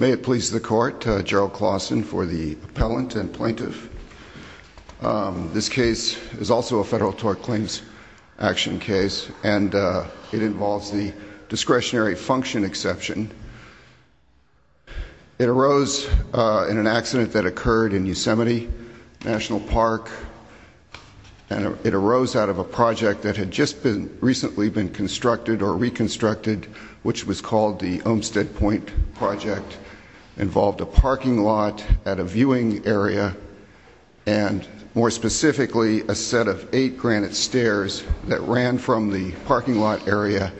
May it please the court, Gerald Claussen for the appellant and plaintiff. This case is also a federal tort claims action case and it involves the discretionary function exception. It arose in an accident that occurred in Yosemite National Park and it arose out of a project that had just been recently been involved a parking lot at a viewing area and more specifically a set of eight granite stairs that ran from the parking lot area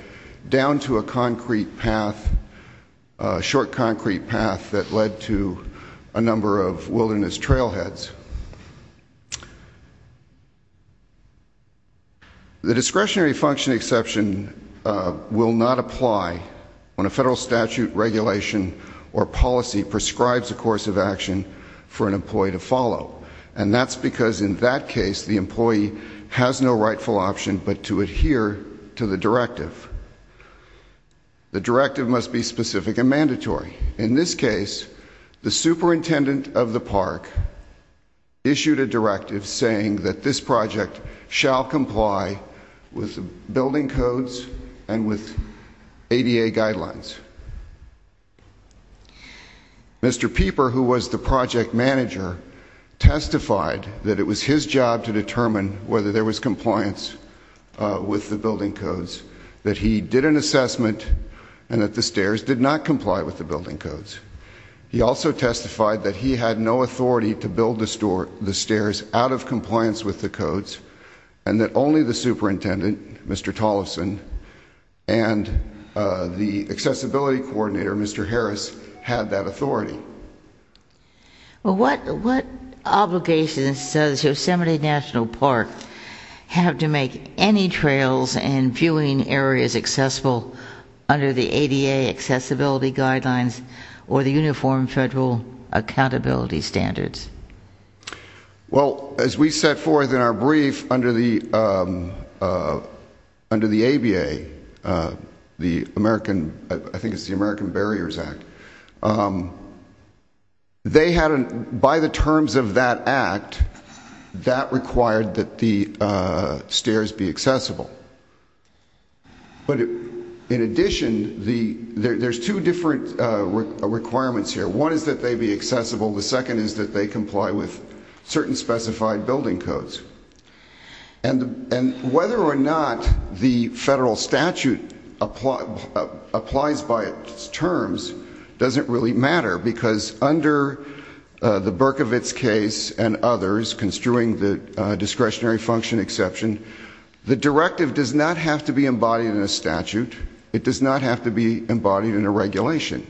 down to a concrete path, a short concrete path that led to a number of wilderness trailheads. The discretionary function exception will not apply when a federal statute regulation or policy prescribes a course of action for an employee to follow and that's because in that case the employee has no rightful option but to adhere to the directive. The directive must be specific and mandatory. In this case the superintendent of the park issued a directive saying that this project shall comply with building codes and with ADA guidelines. Mr. Pieper who was the project manager testified that it was his job to determine whether there was compliance with the building codes, that he did an assessment and that the stairs did not he had no authority to build the stairs out of compliance with the codes and that only the superintendent, Mr. Tolleson and the accessibility coordinator Mr. Harris had that authority. What obligations does Yosemite National Park have to make any trails and viewing areas accessible under the ADA accessibility guidelines or the uniform federal accountability standards? Well as we set forth in our brief under the under the ABA, the American I think it's the American Barriers Act, they had by the terms of that act that required that the stairs be accessible. But in addition there's two different requirements here. One is that they be accessible, the second is that they comply with certain specified building codes. And whether or not the federal statute applies by its terms doesn't really matter because under the Berkovitz case and others construing the discretionary function exception, the directive does not have to be embodied in a statute, it does not have to be embodied in a regulation,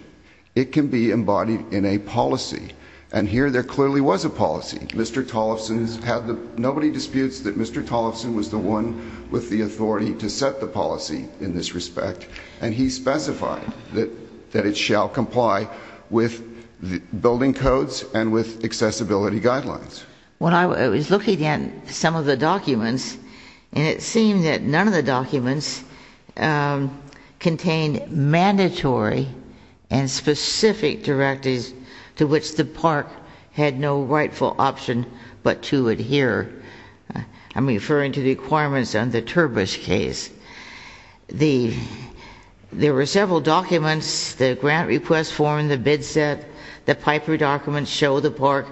it can be embodied in a policy. And here there clearly was a policy. Mr. Tolleson has had the, nobody disputes that Mr. Tolleson was the one with the authority to set the policy in this respect and he specified that that it shall comply with the building codes and with accessibility guidelines. When I was looking at some of the documents and it seemed that none of the documents contained mandatory and specific directives to which the park had no rightful option but to adhere. I'm referring to the requirements on the bid set that Piper documents show the park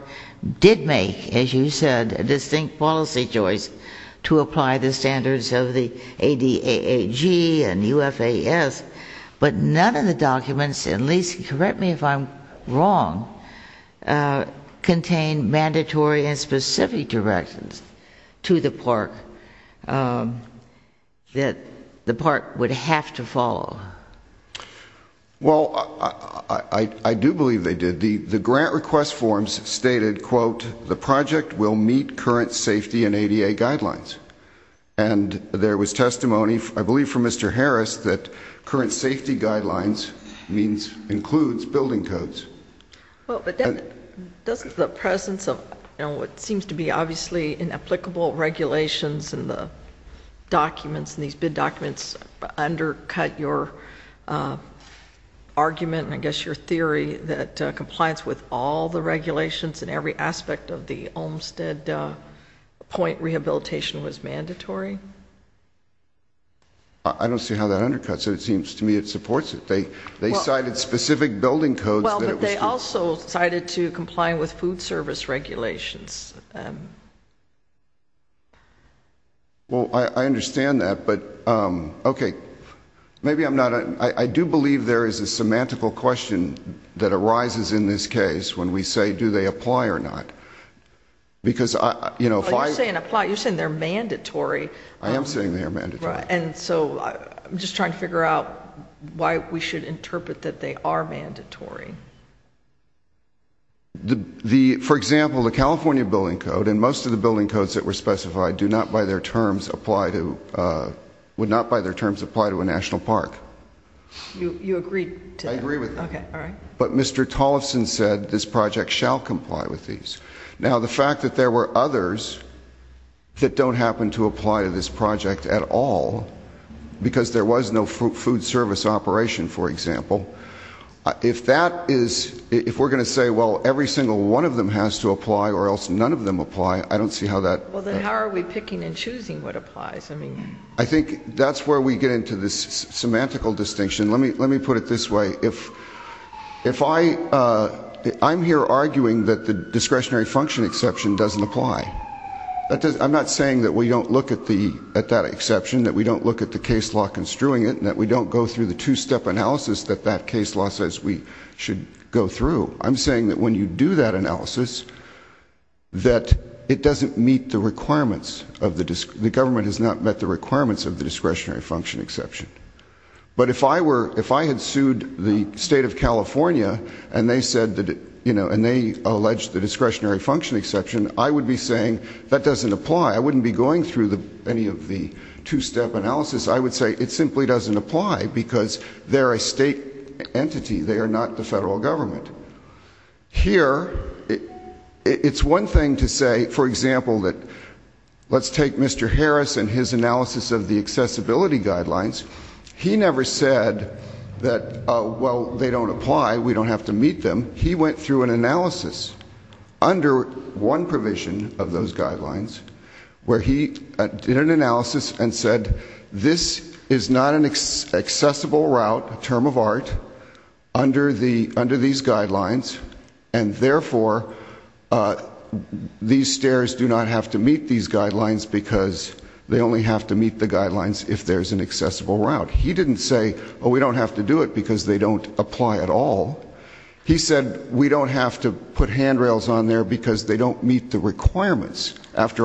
did make, as you said, a distinct policy choice to apply the standards of the ADAAG and UFAS, but none of the documents, at least correct me if I'm wrong, contain mandatory and specific directions to the park that the park would have to follow. Well, I do believe they did. The grant request forms stated, quote, the project will meet current safety and ADA guidelines. And there was testimony, I believe from Mr. Harris, that current safety guidelines means includes building codes. Well, but doesn't the presence of, you know, what seems to be obviously inapplicable regulations and the documents and these bid documents undercut your argument and I guess your theory that compliance with all the regulations and every aspect of the Olmstead point rehabilitation was mandatory? I don't see how that undercuts it. It seems to me it supports it. They cited specific building codes. Well, but they also cited to complying with food service regulations. Well, I understand that, but, okay, maybe I'm not, I do believe there is a semantical question that arises in this case when we say do they apply or not. Because, you know, if I say and apply, you're saying they're mandatory. I am saying they're mandatory. And so I'm just trying to figure out why we should the, for example, the California building code and most of the building codes that were specified do not by their terms apply to, would not by their terms apply to a national park. You agree? I agree with that. Okay, all right. But Mr. Tollefson said this project shall comply with these. Now the fact that there were others that don't happen to apply to this project at all because there was no food service operation, for example, if that is, if we're going to say, well, every single one of them has to apply or else none of them apply, I don't see how that. Well, then how are we picking and choosing what applies? I mean. I think that's where we get into this semantical distinction. Let me, let me put it this way. If, if I, I'm here arguing that the discretionary function exception doesn't apply. That does, I'm not saying that we don't look at the, at that exception, that we don't look at the case law construing it and that we don't go through the two-step analysis that that case law says we should go through. I'm saying that when you do that analysis, that it doesn't meet the requirements of the, the government has not met the requirements of the discretionary function exception. But if I were, if I had sued the state of California and they said that, you know, and they alleged the discretionary function exception, I would be saying that doesn't apply. I wouldn't be going through the, any of the two-step analysis. I would say it simply doesn't apply because they're a state entity. They are not the federal government. Here, it's one thing to say, for example, that let's take Mr. Harris and his analysis of the accessibility guidelines. He never said that, well, they don't apply. We don't have to meet them. He went through an analysis under one provision of those guidelines where he did an analysis and said this is not an accessible route, a term of art, under the, under these guidelines and therefore these stairs do not have to meet these guidelines because they only have to meet the guidelines if there's an accessible route. He didn't say, well, we don't have to do it because they don't apply at all. He said we don't have to put handrails on there because they don't meet the requirements. With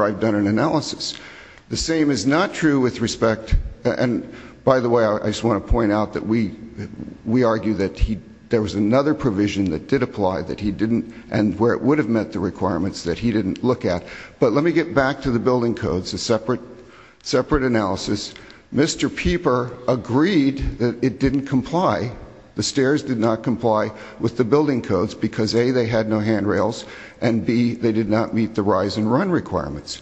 respect, and by the way, I just want to point out that we, we argue that he, there was another provision that did apply that he didn't and where it would have met the requirements that he didn't look at. But let me get back to the building codes, a separate, separate analysis. Mr. Pieper agreed that it didn't comply. The stairs did not comply with the building codes because A, they had no handrails and B, they did not meet the rise and run requirements.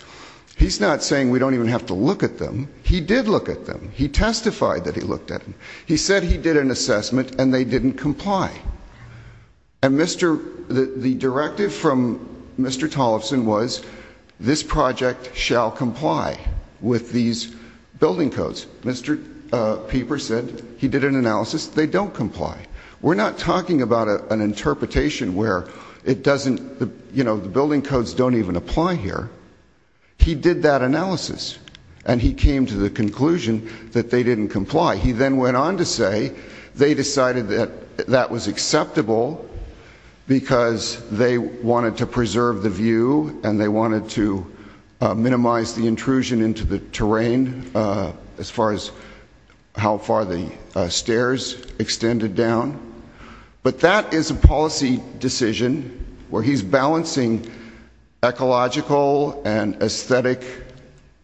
He's not saying we don't even have to look at them. He did look at them. He testified that he looked at them. He said he did an assessment and they didn't comply. And Mr., the directive from Mr. Tollefson was this project shall comply with these building codes. Mr. Pieper said he did an analysis, they don't comply. We're not talking about an interpretation where it doesn't, you don't even apply here. He did that analysis and he came to the conclusion that they didn't comply. He then went on to say they decided that that was acceptable because they wanted to preserve the view and they wanted to minimize the intrusion into the terrain as far as how far the stairs extended down. But that is a policy decision where he's balancing ecological and aesthetic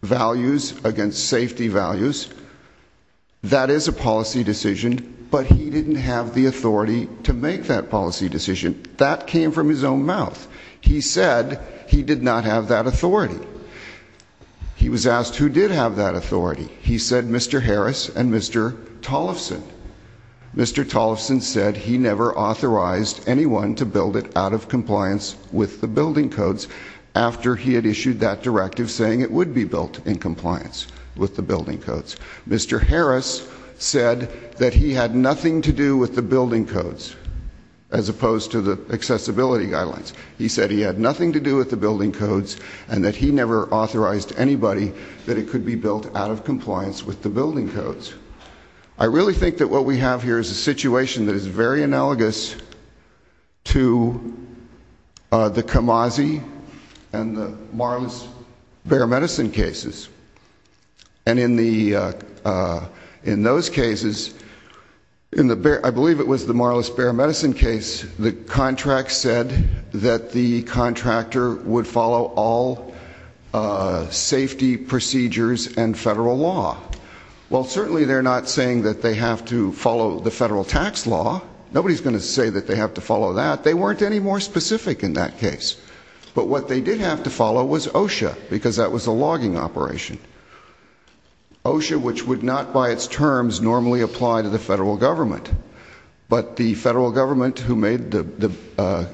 values against safety values. That is a policy decision but he didn't have the authority to make that policy decision. That came from his own mouth. He said he did not have that authority. He was asked who did have that authority. He said he never authorized anyone to build it out of compliance with the building codes after he had issued that directive saying it would be built in compliance with the building codes. Mr. Harris said that he had nothing to do with the building codes as opposed to the accessibility guidelines. He said he had nothing to do with the building codes and that he never authorized anybody that it could be built out of compliance with the building codes. I really think that what we have here is a situation that is very analogous to the Camasi and the Marlis bear medicine cases. And in the in those cases in the bear I believe it was the Marlis bear medicine case the contract said that the contractor would follow all safety procedures and federal law. Well they have to follow the federal tax law. Nobody's going to say that they have to follow that. They weren't any more specific in that case. But what they did have to follow was OSHA because that was a logging operation. OSHA which would not by its terms normally apply to the federal government. But the federal government who made the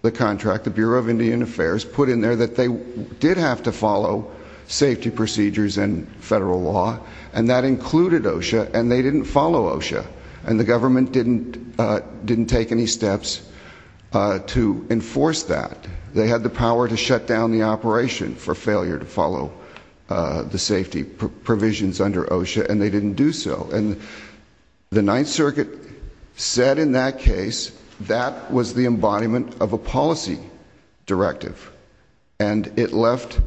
the contract the Bureau of Indian Affairs put in there that they did have to follow safety procedures and federal law and that they had to follow OSHA. And the government didn't didn't take any steps to enforce that. They had the power to shut down the operation for failure to follow the safety provisions under OSHA and they didn't do so. And the Ninth Circuit said in that case that was the embodiment of a policy directive. And it left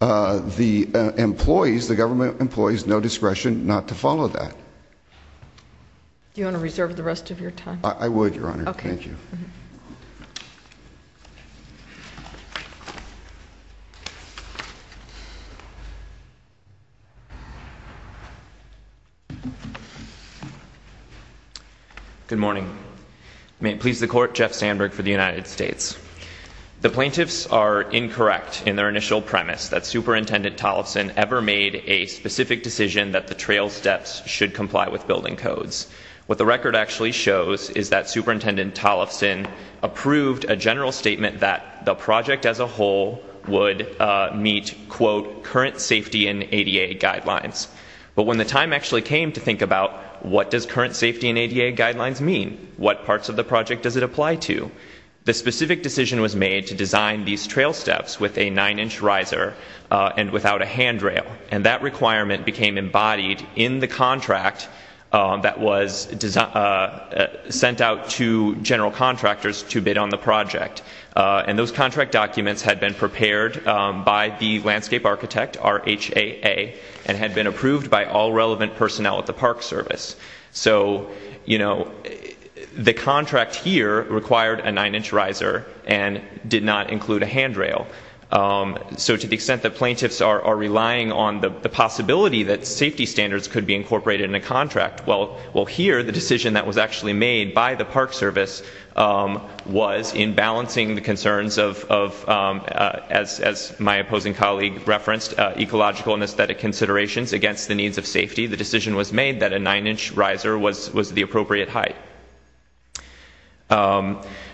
the employees the government employees no discretion not to follow that. Do you want to reserve the rest of your time? I would your honor. Thank you. Good morning. May it please the court Jeff Sandberg for the United States. The plaintiffs are incorrect in their initial premise that Superintendent Tollefson ever made a specific decision that the trail steps should comply with building codes. What the record actually shows is that Superintendent Tollefson approved a general statement that the project as a whole would meet quote current safety and ADA guidelines. But when the time actually came to think about what does current safety and ADA guidelines mean? What parts of the project does it apply to? The specific decision was made to design these trail steps without a nine-inch riser and without a handrail. And that requirement became embodied in the contract that was sent out to general contractors to bid on the project. And those contract documents had been prepared by the landscape architect RHAA and had been approved by all relevant personnel at the Park Service. So you know the contract here required a nine-inch riser and did not include a handrail. So to the extent that plaintiffs are relying on the possibility that safety standards could be incorporated in a contract, well here the decision that was actually made by the Park Service was in balancing the concerns of, as my opposing colleague referenced, ecological and aesthetic considerations against the needs of safety. The decision was made that a nine-inch riser was the appropriate height.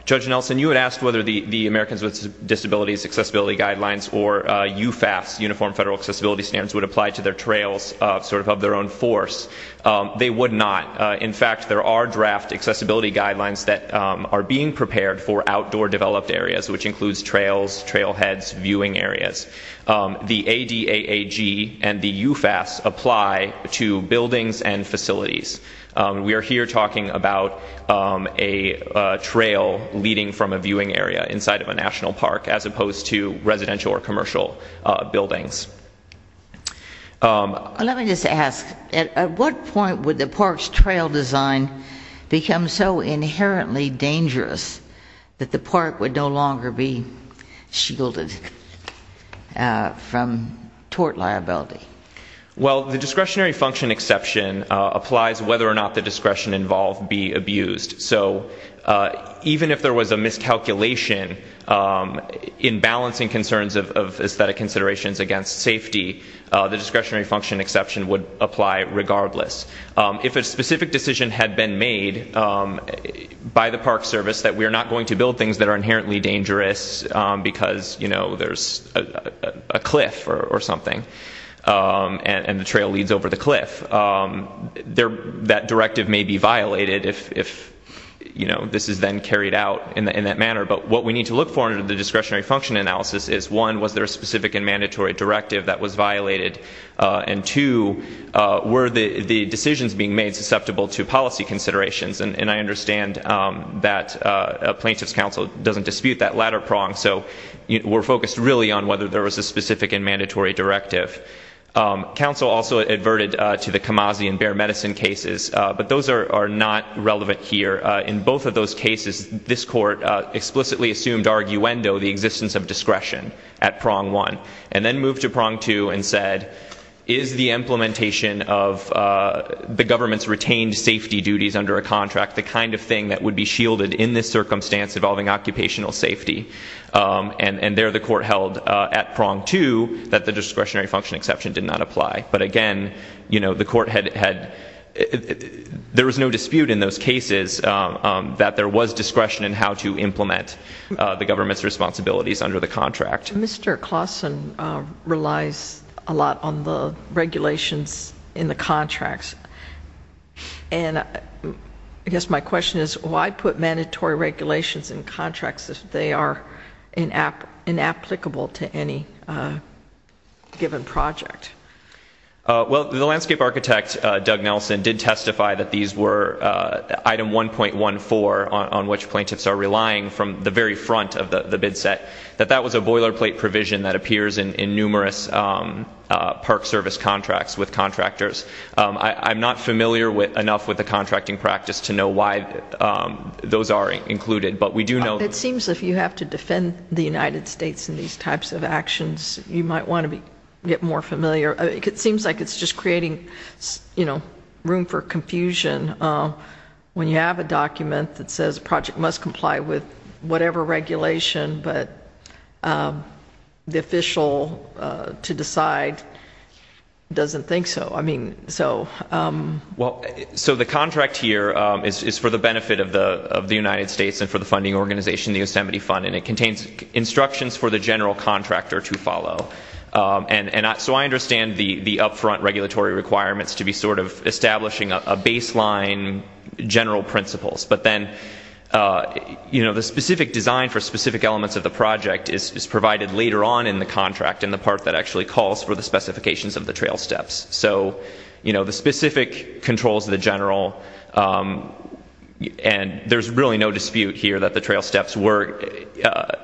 Judge Nelson you had asked whether the Americans with Disabilities Accessibility Guidelines or UFAS, Uniform Federal Accessibility Standards, would apply to their trails sort of of their own force. They would not. In fact there are draft accessibility guidelines that are being prepared for outdoor developed areas which includes trails, trailheads, viewing areas. The ADAAG and the UFAS apply to buildings and facilities. We are here talking about a trail leading from a viewing area inside of a national park as opposed to residential or commercial buildings. Let me just ask, at what point would the park's trail design become so inherently dangerous that the park would no longer be shielded from tort liability? Well the discretionary function exception applies whether or not there was a miscalculation in balancing concerns of aesthetic considerations against safety. The discretionary function exception would apply regardless. If a specific decision had been made by the Park Service that we are not going to build things that are inherently dangerous because you know there's a cliff or something and the trail leads over the cliff, that directive may be violated if you know this is then carried out in that manner. But what we need to look for in the discretionary function analysis is one, was there a specific and mandatory directive that was violated? And two, were the decisions being made susceptible to policy considerations? And I understand that a plaintiff's counsel doesn't dispute that latter prong. So we're focused really on whether there was a specific and mandatory directive. Counsel also adverted to the Camasi and Bear Medicine cases, but those are not relevant here. In both of those cases, this court explicitly assumed arguendo, the existence of discretion, at prong one. And then moved to prong two and said, is the implementation of the government's retained safety duties under a contract the kind of thing that would be shielded in this circumstance involving occupational safety? And there the court held at prong two that the again, you know, the court had, there was no dispute in those cases that there was discretion in how to implement the government's responsibilities under the contract. Mr. Clausen relies a lot on the regulations in the contracts. And I guess my question is, why put mandatory regulations in contracts if they are inapplicable to any given project? Well, the landscape architect, Doug Nelson, did testify that these were item 1.14 on which plaintiffs are relying from the very front of the bid set. That that was a boilerplate provision that appears in numerous Park Service contracts with contractors. I'm not familiar with enough with the contracting practice to know why those are included, but we do know it seems if you have to defend the United States in these types of actions, you might want to be get more familiar. It seems like it's just creating, you know, room for confusion when you have a document that says a project must comply with whatever regulation, but the official to decide doesn't think so. I mean, so. Well, so the contract here is for the benefit of the of the United States organization, the Yosemite Fund, and it contains instructions for the general contractor to follow. And so I understand the upfront regulatory requirements to be sort of establishing a baseline general principles. But then, you know, the specific design for specific elements of the project is provided later on in the contract in the part that actually calls for the specifications of the trail steps. So, you know, the specific controls the general and there's really no dispute here that the trail steps were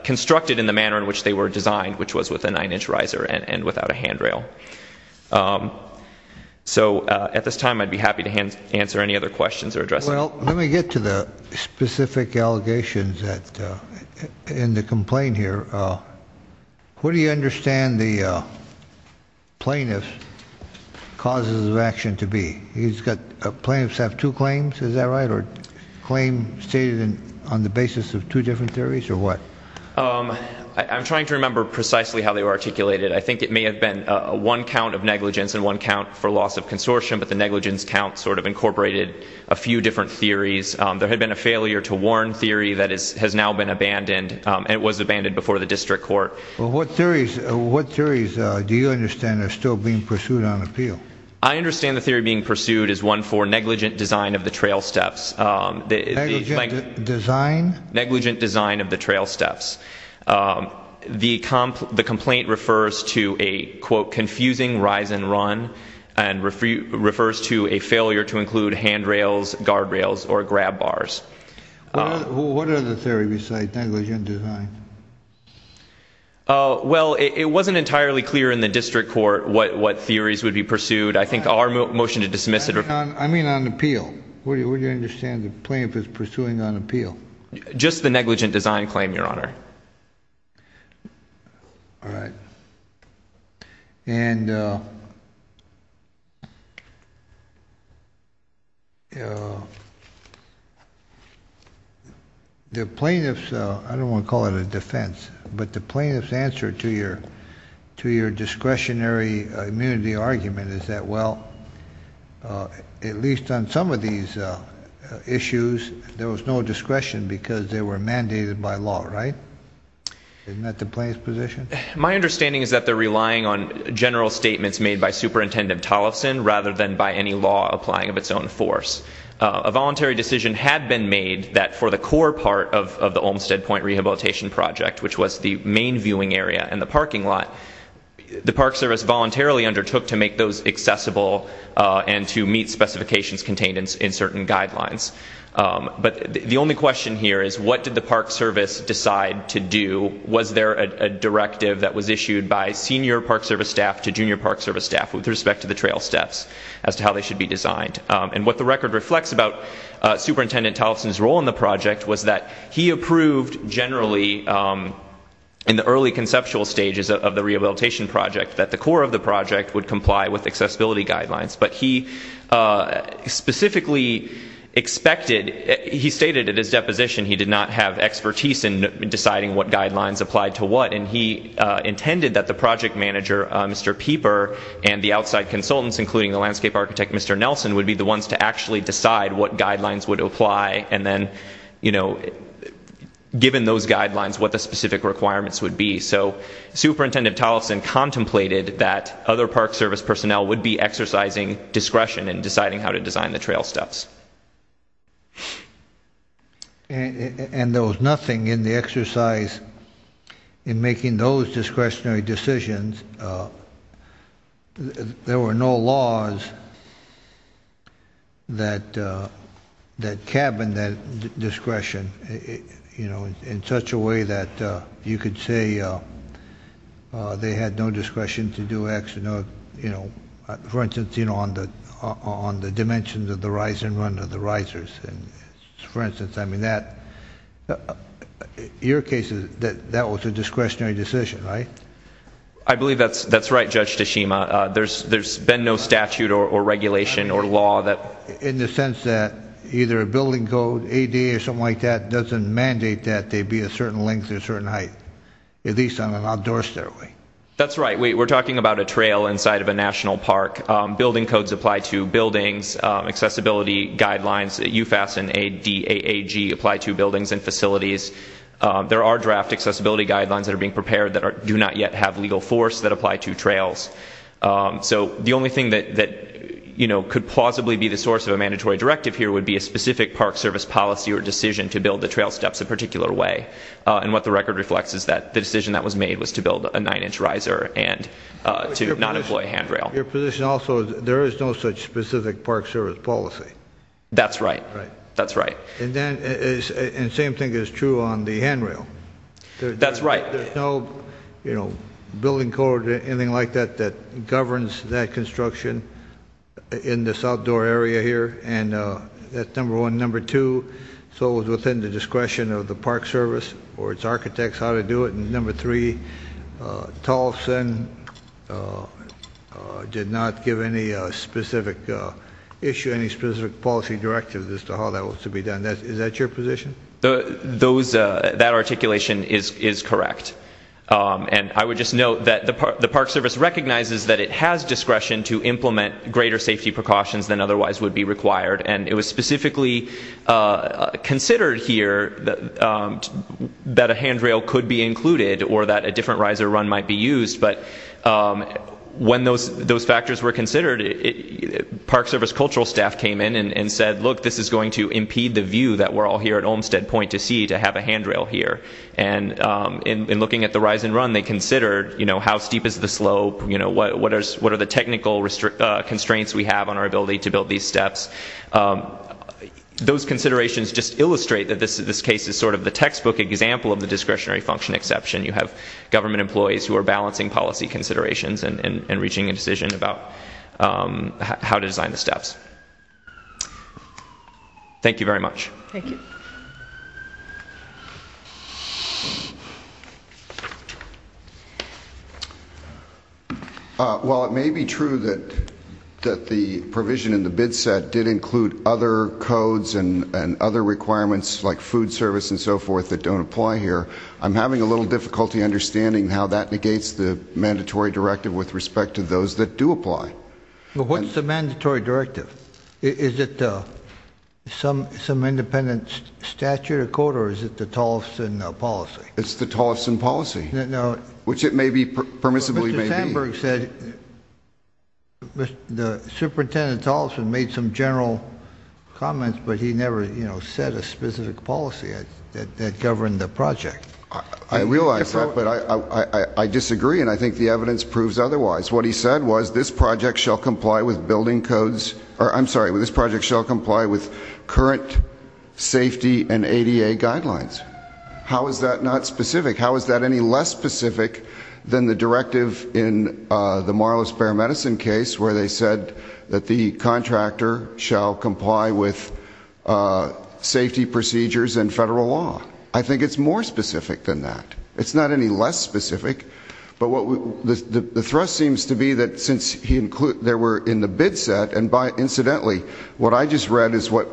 constructed in the manner in which they were designed, which was with a nine-inch riser and and without a handrail. So at this time I'd be happy to answer any other questions or addressing. Well, let me get to the specific allegations that in the complaint here. What do you understand the plaintiff causes of action to be? He's got plaintiffs have two claims. Is that right? Or claim stated in on the basis of two different theories or what? I'm trying to remember precisely how they were articulated. I think it may have been a one count of negligence and one count for loss of consortium, but the negligence count sort of incorporated a few different theories. There had been a failure to warn theory that is has now been abandoned. It was abandoned before the district court. Well, what theories what theories do you understand are still being pursued on appeal? I think the one that's still being pursued is one for negligent design of the trail steps. Negligent design? Negligent design of the trail steps. The complaint refers to a quote confusing rise and run and refers to a failure to include handrails, guardrails, or grab bars. What are the theories besides negligent design? Well, it wasn't entirely clear in the district court what theories would be pursued. I think our motion to dismiss it. I mean on appeal. What do you understand the plaintiff is pursuing on appeal? Just the negligent design claim, your honor. All right. And the plaintiffs, I don't want to call it a defense, but the plaintiffs answer to to your discretionary immunity argument is that, well, at least on some of these issues, there was no discretion because they were mandated by law, right? Isn't that the plaintiff's position? My understanding is that they're relying on general statements made by Superintendent Tollefson rather than by any law applying of its own force. A voluntary decision had been made that for the core part of the parking lot, the Park Service voluntarily undertook to make those accessible and to meet specifications contained in certain guidelines. But the only question here is what did the Park Service decide to do? Was there a directive that was issued by senior Park Service staff to junior Park Service staff with respect to the trail steps as to how they should be designed? And what the record reflects about Superintendent Tollefson's role in the project was that he approved generally in the early conceptual stages of the rehabilitation project that the core of the project would comply with accessibility guidelines. But he specifically expected, he stated at his deposition, he did not have expertise in deciding what guidelines applied to what. And he intended that the project manager, Mr. Pieper, and the outside consultants, including the landscape architect, Mr. Nelson, would be the ones to actually decide what guidelines would apply. And then, you know, given those guidelines, what the specific requirements would be. So Superintendent Tollefson contemplated that other Park Service personnel would be exercising discretion in deciding how to design the trail steps. And there was nothing in the exercise in making those discretionary decisions. There were no laws that cabined that discretion, you know, in such a way that you could say they had no discretion to do X, you know, for instance, you know, on the dimensions of the rise and run of the risers. For instance, I mean, that, in your case, that was a discretionary decision, right? I believe that's right, Judge Tashima. There's been no statute or regulation or law that... In the sense that either a building code, ADA or something like that, doesn't mandate that they be a certain length or a certain height, at least on an outdoor stairway. That's right. We're talking about a trail inside of a national park. Building codes apply to buildings. Accessibility guidelines, UFAS and ADAG, apply to buildings and facilities. There are draft accessibility guidelines that are being prepared that do not yet have legal force that apply to trails. So the only thing that, you know, could plausibly be the source of a mandatory directive here would be a specific Park Service policy or decision to build the trail steps a particular way. And what the record reflects is that the decision that was made was to build a nine-inch riser and to not employ handrail. Your position also is there is no such on the handrail. That's right. There's no, you know, building code or anything like that that governs that construction in this outdoor area here. And that's number one. Number two, so it was within the discretion of the Park Service or its architects how to do it. And number three, Tolson did not give any specific issue, any specific policy directive as to how that was to be done. Is that your position? Those, that articulation is correct. And I would just note that the Park Service recognizes that it has discretion to implement greater safety precautions than otherwise would be required. And it was specifically considered here that a handrail could be included or that a different riser run might be used. But when those factors were considered, you know, we need the view that we're all here at Olmstead Point to see to have a handrail here. And in looking at the rise and run, they considered, you know, how steep is the slope, you know, what are the technical constraints we have on our ability to build these steps. Those considerations just illustrate that this case is sort of the textbook example of the discretionary function exception. You have government employees who are balancing policy Thank you very much. Thank you. While it may be true that the provision in the bid set did include other codes and other requirements like food service and so forth that don't apply here, I'm having a little difficulty understanding how that negates the mandatory directive with respect to those that apply. What's the mandatory directive? Is it some independent statute or code or is it the Tolleson policy? It's the Tolleson policy, which it may be, permissibly may be. Mr. Sandberg said the Superintendent Tolleson made some general comments, but he never, you know, said a specific policy that governed the project. I realize that, but I disagree and I think the project shall comply with building codes, or I'm sorry, this project shall comply with current safety and ADA guidelines. How is that not specific? How is that any less specific than the directive in the Marlowe Spare Medicine case where they said that the contractor shall comply with safety procedures and federal law? I think it's more specific than that. It's not any less specific, but the thrust seems to be that since there were in the bid set, and incidentally, what I just read is what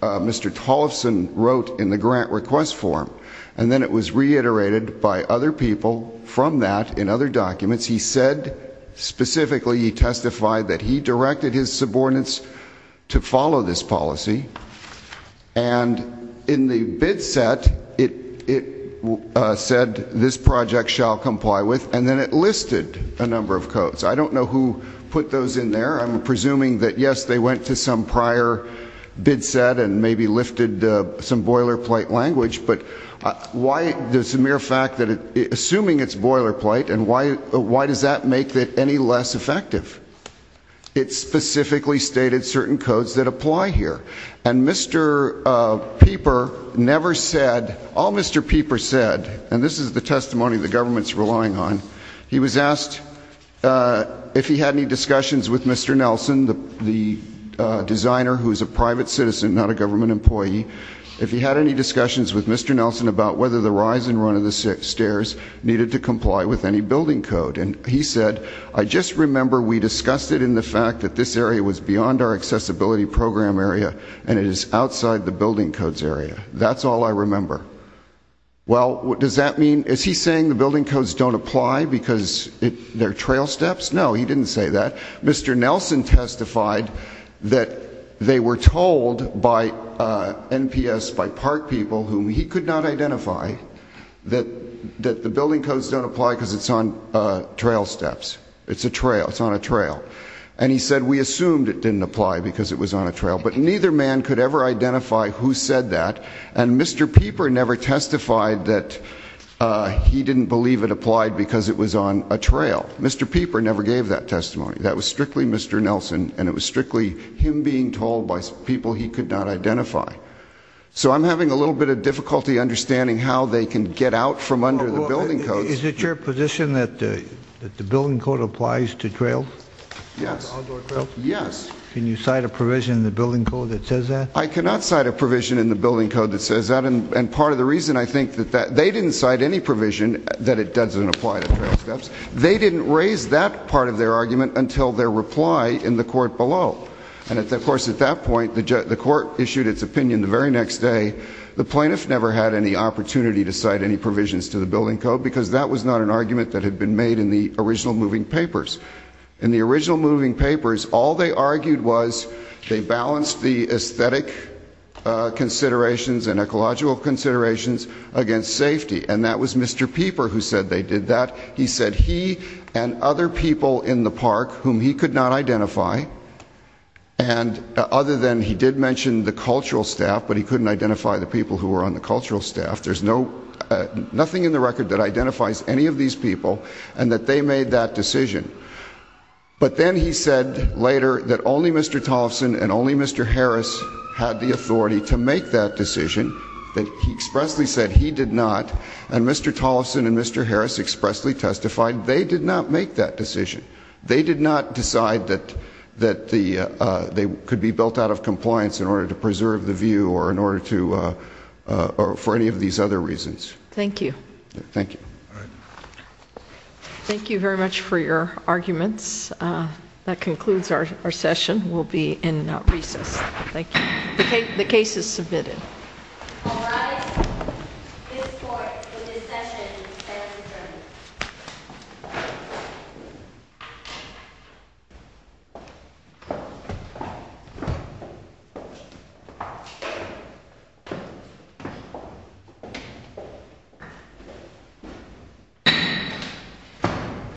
Mr. Tolleson wrote in the grant request form, and then it was reiterated by other people from that in other documents. He said specifically, he testified that he directed his subordinates to follow this policy, and in the bid set, it said this project shall comply with, and then it listed a number of codes. I don't know who put those in there. I'm presuming that, yes, they went to some prior bid set and maybe lifted some boilerplate language, but why, there's a mere fact that, assuming it's boilerplate, and why does that make it any less effective? It specifically stated certain codes that apply here, and Mr. Pieper never said, all Mr. Pieper said, and this is the testimony the government's relying on, he was asked if he had any discussions with Mr. Nelson, the designer who's a private citizen, not a government employee, if he had any discussions with Mr. Nelson about whether the rise and run of the stairs needed to comply with any building code, and he said, I just remember we discussed it in the fact that this area was beyond our accessibility program area, and it is outside the building codes area. That's all I remember. Well, does that mean, is he saying the building codes don't apply because they're trail steps? No, he didn't say that. Mr. Nelson testified that they were told by NPS, by park people, whom he could not identify, that the building codes don't apply because it's on trail steps. It's a trail, it's on a trail, and he said we assumed it didn't apply because it was on a trail, but neither man could ever identify who said that, and Mr. Pieper never testified that he didn't believe it applied because it was on a trail. Mr. Pieper never gave that identity. So I'm having a little bit of difficulty understanding how they can get out from under the building codes. Is it your position that the building code applies to trail? Yes. Yes. Can you cite a provision in the building code that says that? I cannot cite a provision in the building code that says that, and part of the reason I think that they didn't cite any provision that it doesn't apply to trail steps, they didn't raise that part of their argument until their the court issued its opinion the very next day. The plaintiff never had any opportunity to cite any provisions to the building code because that was not an argument that had been made in the original moving papers. In the original moving papers, all they argued was they balanced the aesthetic considerations and ecological considerations against safety, and that was Mr. Pieper who said they did that. He said he and other people in the park whom he could not identify and other than he did mention the cultural staff, but he couldn't identify the people who were on the cultural staff, there's nothing in the record that identifies any of these people and that they made that decision. But then he said later that only Mr. Tollefson and only Mr. Harris had the authority to make that decision, that he expressly said he did not, and Mr. Tollefson and Mr. Harris expressly testified they did not make that decision. They did not decide that they could be built out of compliance in order to preserve the view or for any of these other reasons. Thank you. Thank you. Thank you very much for your arguments. That concludes our session. We'll be in recess. Thank you. The case is submitted.